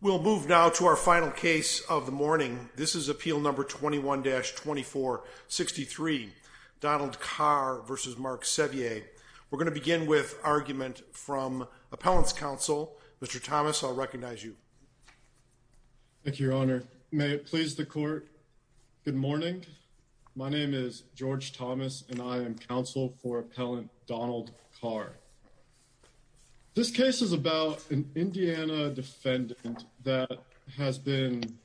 We'll move now to our final case of the morning. This is Appeal No. 21-2463, Donald Karr v. Mark Sevier. We're going to begin with argument from Appellants Council. Mr. Thomas, I'll recognize you. Thank you, Your Honor. May it please the Court, good morning. My name is George Thomas and I am counsel for Appellant Donald Karr. This case is about an Indiana defendant that has been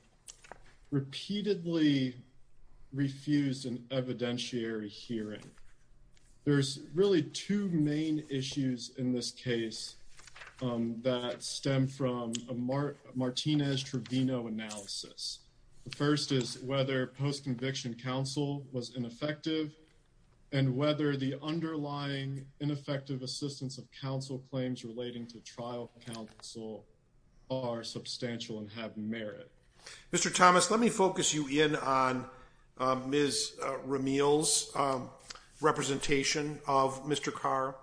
repeatedly refused an evidentiary hearing. There's really two main issues in this case that stem from a Martinez-Trevino analysis. The first is whether post-conviction counsel was ineffective and whether the underlying ineffective assistance of counsel claims relating to trial counsel are substantial and have merit. Mr. Thomas, let me focus you in on Ms. Ramil's representation of Mr. Karr.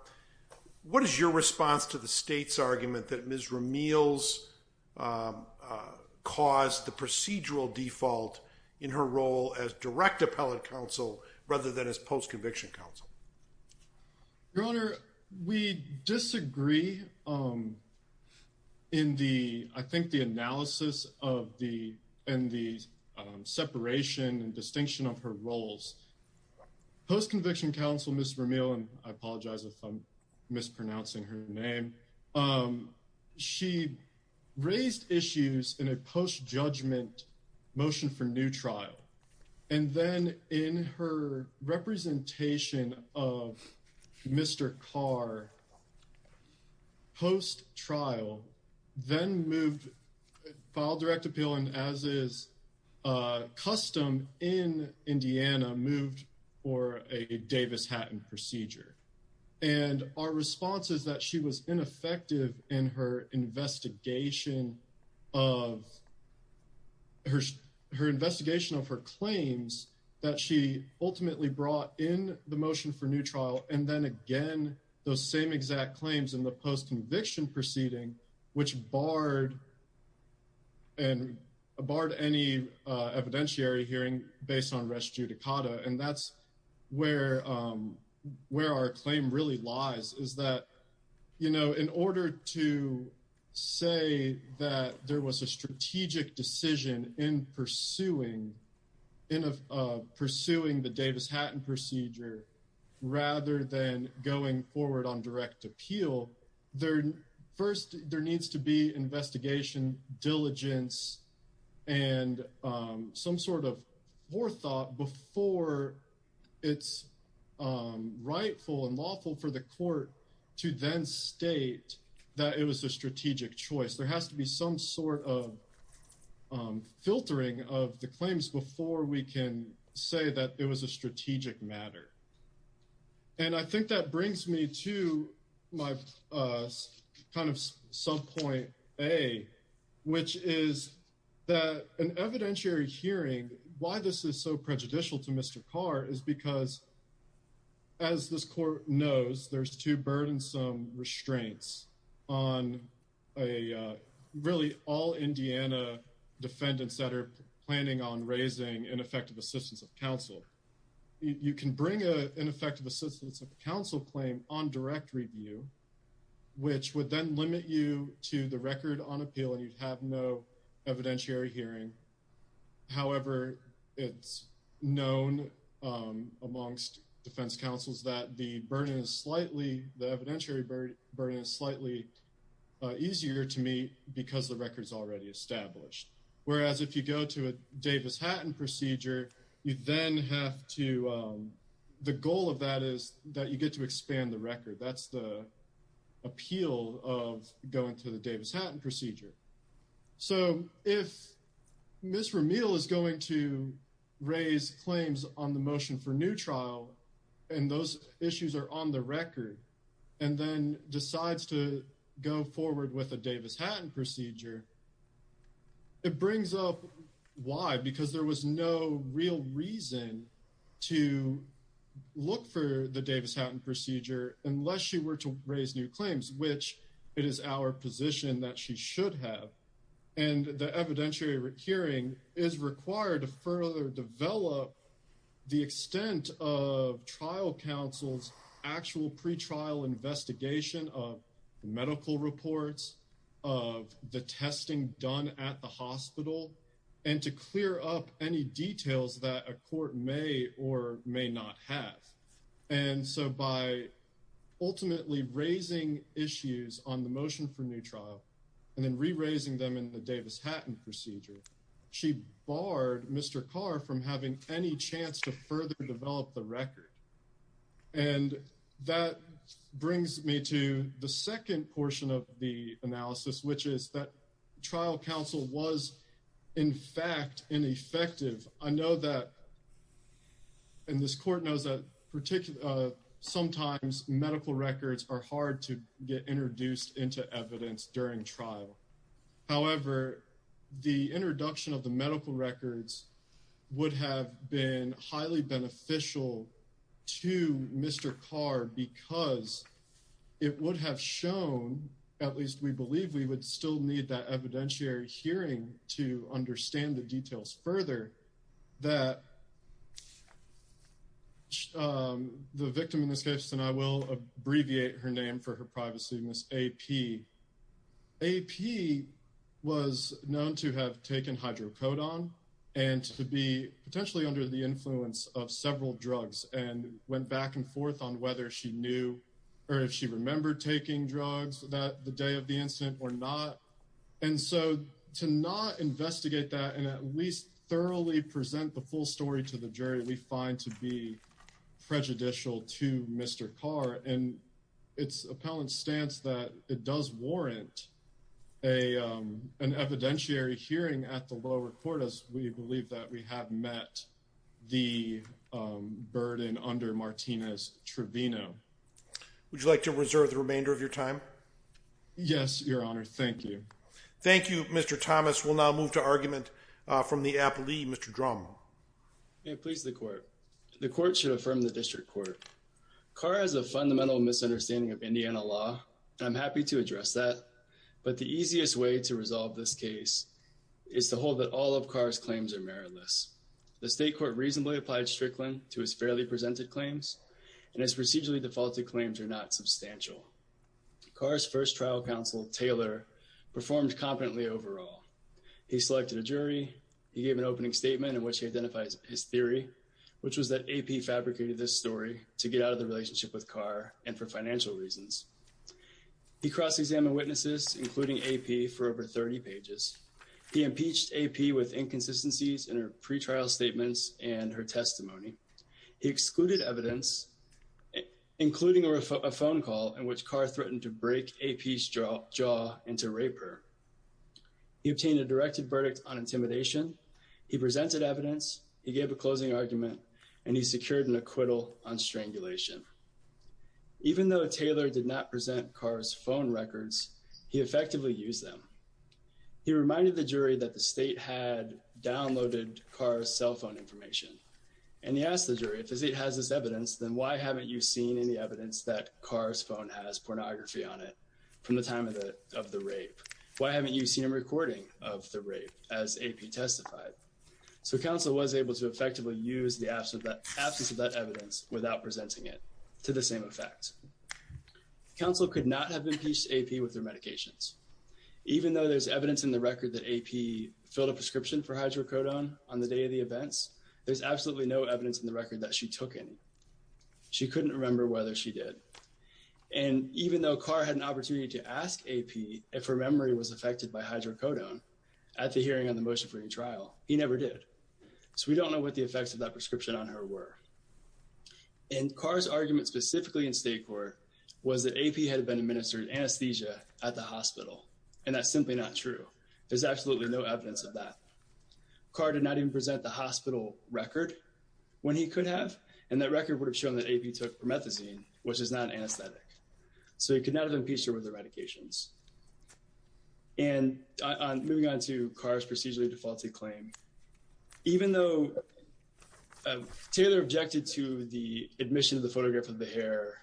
What is your response to the state's argument that Ms. Ramil's caused the procedural default in her role as direct appellant counsel rather than as post-conviction counsel? Your Honor, we disagree in the, I think, the analysis and the separation and distinction of her roles. Post-conviction counsel, Ms. Ramil, and I apologize if I'm mispronouncing her name, she raised issues in a post-judgment motion for new trial. And then in her representation of Mr. Karr post-trial, then moved, filed direct appeal, and as is custom in Indiana, moved for a Davis-Hatton procedure. And our response is that she was ineffective in her investigation of her claims that she ultimately brought in the motion for new trial, and then again, those same exact claims in the post-conviction proceeding, which barred any evidentiary hearing based on res judicata. And that's where our claim really lies, is that, you know, in order to say that there was a strategic decision in pursuing the Davis-Hatton procedure rather than going forward on direct appeal, first, there needs to be investigation, diligence, and some sort of forethought before it's rightful and lawful for the court to then state that it was a strategic choice. There has to be some sort of filtering of the claims before we can say that it was a strategic matter. And I think that brings me to my kind of sub-point A, which is that an evidentiary hearing, why this is so prejudicial to Mr. Karr is because, as this court knows, there's two burdensome restraints on really all Indiana defendants that are planning on raising ineffective assistance of counsel. You can bring an ineffective assistance of counsel claim on direct review, which would then limit you to the record on appeal and you'd have no evidentiary hearing. However, it's known amongst defense counsels that the burden is slightly, the evidentiary burden is slightly easier to meet because the record's already established. Whereas if you go to a Davis-Hatton procedure, you then have to, the goal of that is that you get to expand the record. That's the appeal of going to the Davis-Hatton procedure. So if Ms. Ramil is going to raise claims on the motion for new trial, and those issues are on the record, and then decides to go forward with a Davis-Hatton procedure, it brings up why, because there was no real reason to look for the Davis-Hatton procedure unless she were to raise new claims, which it is our position that she should have. And the evidentiary hearing is required to further develop the extent of trial counsel's actual pretrial investigation of medical reports, of the testing done at the hospital, and to clear up any details that a court may or may not have. And so by ultimately raising issues on the motion for new trial, and then re-raising them in the Davis-Hatton procedure, she barred Mr. Carr from having any chance to further develop the record. And that brings me to the second portion of the analysis, which is that trial counsel was, in fact, ineffective. I know that, and this court knows that sometimes medical records are hard to get introduced into evidence during trial. However, the introduction of the medical records would have been highly beneficial to Mr. Carr because it would have shown, at least we believe we would still need that evidentiary hearing to understand the details further, that the victim in this case, and I will abbreviate her name for her privacy, Miss AP. AP was known to have taken hydrocodone and to be potentially under the influence of several drugs and went back and forth on whether she knew or if she remembered taking drugs that the day of the incident or not. And so to not investigate that and at least thoroughly present the full story to the jury, we find to be prejudicial to Mr. Carr, and it's appellant stance that it does warrant an evidentiary hearing at the lower court, as we believe that we have met the burden under Martinez-Trevino. Would you like to reserve the remainder of your time? Yes, Your Honor. Thank you. Thank you, Mr. Thomas. We'll now move to argument from the appellee, Mr. Drummo. May it please the court. The court should affirm the district court. Carr has a fundamental misunderstanding of Indiana law, and I'm happy to address that, but the easiest way to resolve this case is to hold that all of Carr's claims are meritless. The state court reasonably applied Strickland to his fairly presented claims, and his procedurally defaulted claims are not substantial. Carr's first trial counsel, Taylor, performed competently overall. He selected a jury. He gave an opening statement in which he identifies his theory, which was that AP fabricated this story to get out of the relationship with Carr and for financial reasons. He cross-examined witnesses, including AP, for over 30 pages. He impeached AP with inconsistencies in her pretrial statements and her testimony. He excluded evidence, including a phone call in which Carr threatened to break AP's jaw into rape her. He obtained a directed verdict on intimidation. He presented evidence. He gave a closing argument, and he secured an acquittal on strangulation. Even though Taylor did not present Carr's phone records, he effectively used them. He reminded the jury that the state had downloaded Carr's cell phone information. And he asked the jury, if the state has this evidence, then why haven't you seen any evidence that Carr's phone has pornography on it from the time of the rape? Why haven't you seen a recording of the rape as AP testified? So counsel was able to effectively use the absence of that evidence without presenting it to the same effect. Counsel could not have impeached AP with their medications. Even though there's evidence in the record that AP filled a prescription for hydrocodone on the day of the events, there's absolutely no evidence in the record that she took any. She couldn't remember whether she did. And even though Carr had an opportunity to ask AP if her memory was affected by hydrocodone at the hearing on the motion-free trial, he never did. So we don't know what the effects of that prescription on her were. And Carr's argument specifically in state court was that AP had been administered anesthesia at the hospital. And that's simply not true. There's absolutely no evidence of that. Carr did not even present the hospital record when he could have. And that record would have shown that AP took promethazine, which is not anesthetic. So he could not have impeached her with her medications. And moving on to Carr's procedurally defaulted claim. Even though Taylor objected to the admission of the photograph of the hair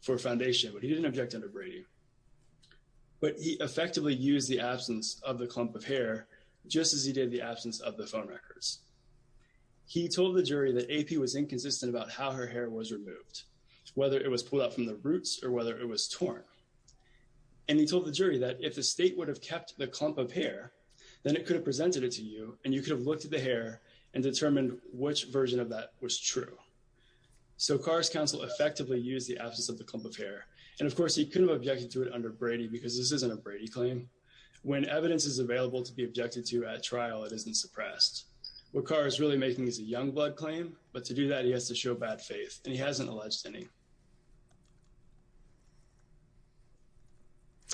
for foundation, he didn't object under Brady. But he effectively used the absence of the clump of hair just as he did the absence of the phone records. He told the jury that AP was inconsistent about how her hair was removed, whether it was pulled out from the roots or whether it was torn. And he told the jury that if the state would have kept the clump of hair, then it could have presented it to you. And you could have looked at the hair and determined which version of that was true. So Carr's counsel effectively used the absence of the clump of hair. And, of course, he couldn't have objected to it under Brady because this isn't a Brady claim. When evidence is available to be objected to at trial, it isn't suppressed. What Carr is really making is a young blood claim. But to do that, he has to show bad faith. And he hasn't alleged any.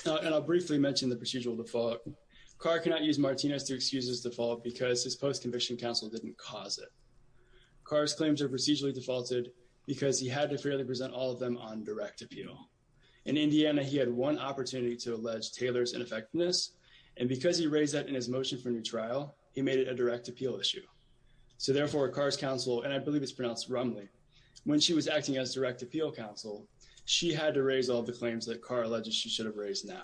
And I'll briefly mention the procedural default. Carr cannot use Martinez to excuse his default because his post-conviction counsel didn't cause it. Carr's claims are procedurally defaulted because he had to fairly present all of them on direct appeal. In Indiana, he had one opportunity to allege Taylor's ineffectiveness. And because he raised that in his motion for new trial, he made it a direct appeal issue. So, therefore, Carr's counsel, and I believe it's pronounced Rumley, when she was acting as direct appeal counsel, she had to raise all the claims that Carr alleges she should have raised now.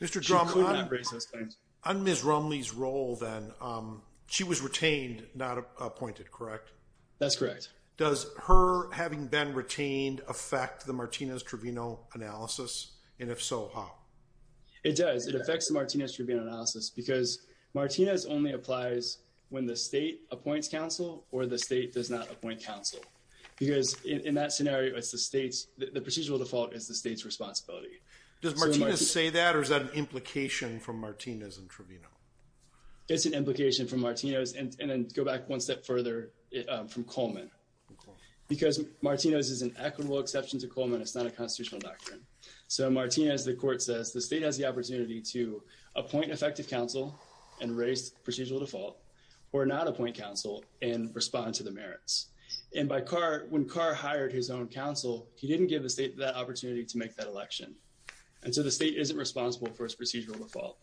She could not raise those claims. On Ms. Rumley's role, then, she was retained, not appointed, correct? That's correct. Does her having been retained affect the Martinez-Trevino analysis? And if so, how? It does. It affects the Martinez-Trevino analysis because Martinez only applies when the state appoints counsel or the state does not appoint counsel. Because in that scenario, the procedural default is the state's responsibility. Does Martinez say that, or is that an implication from Martinez and Trevino? It's an implication from Martinez, and then go back one step further, from Coleman. Because Martinez is an equitable exception to Coleman, it's not a constitutional doctrine. So, Martinez, the court says, the state has the opportunity to appoint effective counsel and raise procedural default or not appoint counsel and respond to the merits. And by Carr, when Carr hired his own counsel, he didn't give the state that opportunity to make that election. And so the state isn't responsible for its procedural default,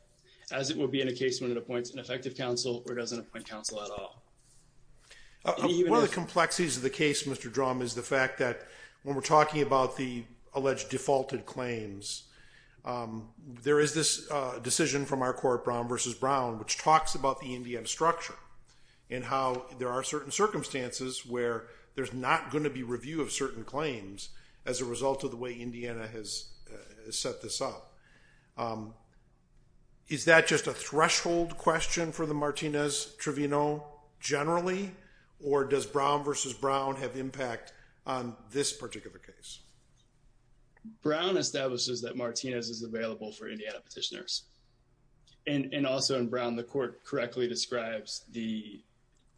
as it would be in a case when it appoints an effective counsel or doesn't appoint counsel at all. One of the complexities of the case, Mr. Drum, is the fact that when we're talking about the alleged defaulted claims, there is this decision from our court, Brown v. Brown, which talks about the Indiana structure and how there are certain circumstances where there's not going to be review of certain claims as a result of the way Indiana has set this up. Is that just a threshold question for the Martinez-Trevino generally? Or does Brown v. Brown have impact on this particular case? Brown establishes that Martinez is available for Indiana petitioners. And also in Brown, the court correctly describes the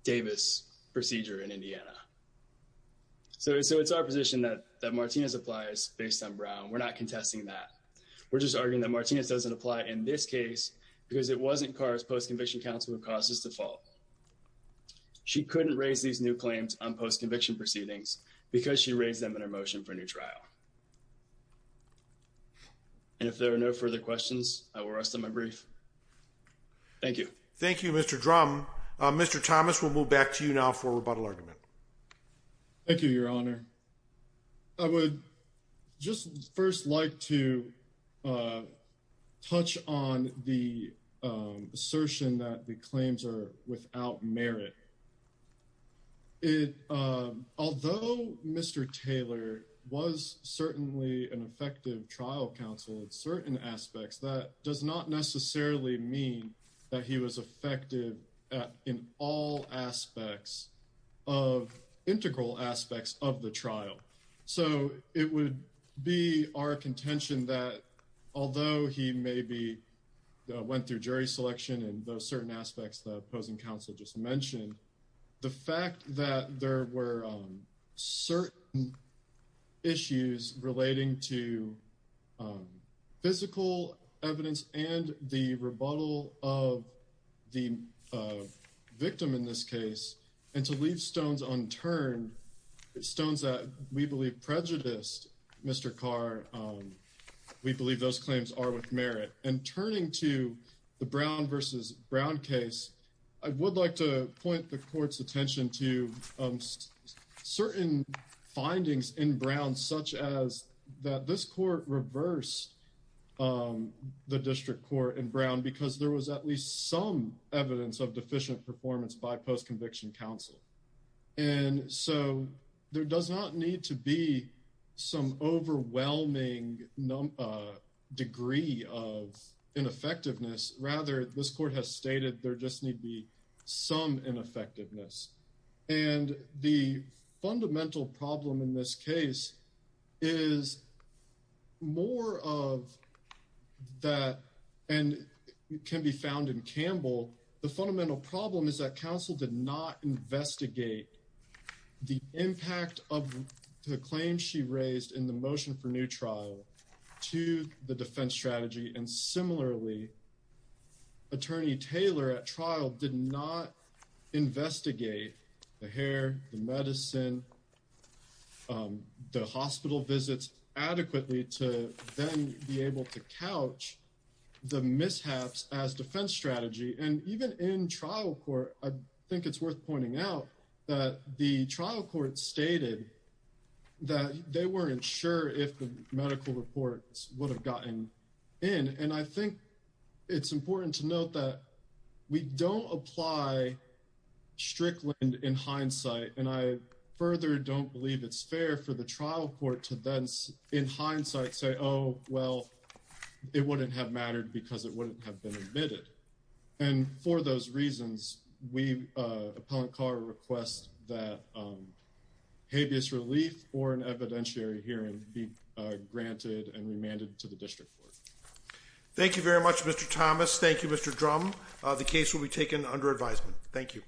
Davis procedure in Indiana. So it's our position that Martinez applies based on Brown. We're not contesting that. We're just arguing that Martinez doesn't apply in this case because it wasn't Carr's post-conviction counsel who caused this default. She couldn't raise these new claims on post-conviction proceedings because she raised them in her motion for a new trial. And if there are no further questions, I will rest on my brief. Thank you. Thank you, Mr. Drum. Mr. Thomas, we'll move back to you now for a rebuttal argument. Thank you, Your Honor. I would just first like to touch on the assertion that the claims are without merit. Although Mr. Taylor was certainly an effective trial counsel in certain aspects, that does not necessarily mean that he was effective in all aspects of integral aspects of the trial. So it would be our contention that although he maybe went through jury selection and those certain aspects the opposing counsel just mentioned, the fact that there were certain issues relating to physical evidence and the rebuttal of the victim in this case and to leave stones unturned, stones that we believe prejudiced Mr. Carr, we believe those claims are with merit. And turning to the Brown v. Brown case, I would like to point the court's attention to certain findings in Brown, such as that this court reversed the district court in Brown because there was at least some evidence of deficient performance by post-conviction counsel. And so there does not need to be some overwhelming degree of ineffectiveness. Rather, this court has stated there just need be some ineffectiveness. And the fundamental problem in this case is more of that and can be found in Campbell. The fundamental problem is that counsel did not investigate the impact of the claim she raised in the motion for new trial to the defense strategy. And similarly, Attorney Taylor at trial did not investigate the hair, the medicine, the hospital visits adequately to then be able to couch the mishaps as defense strategy. And even in trial court, I think it's worth pointing out that the trial court stated that they weren't sure if the medical reports would have gotten in. And I think it's important to note that we don't apply Strickland in hindsight. And I further don't believe it's fair for the trial court to then, in hindsight, say, oh, well, it wouldn't have mattered because it wouldn't have been admitted. And for those reasons, we upon car request that habeas relief or an evidentiary hearing be granted and remanded to the district court. Thank you very much, Mr. Thomas. Thank you, Mr. Drum. The case will be taken under advisement. Thank you.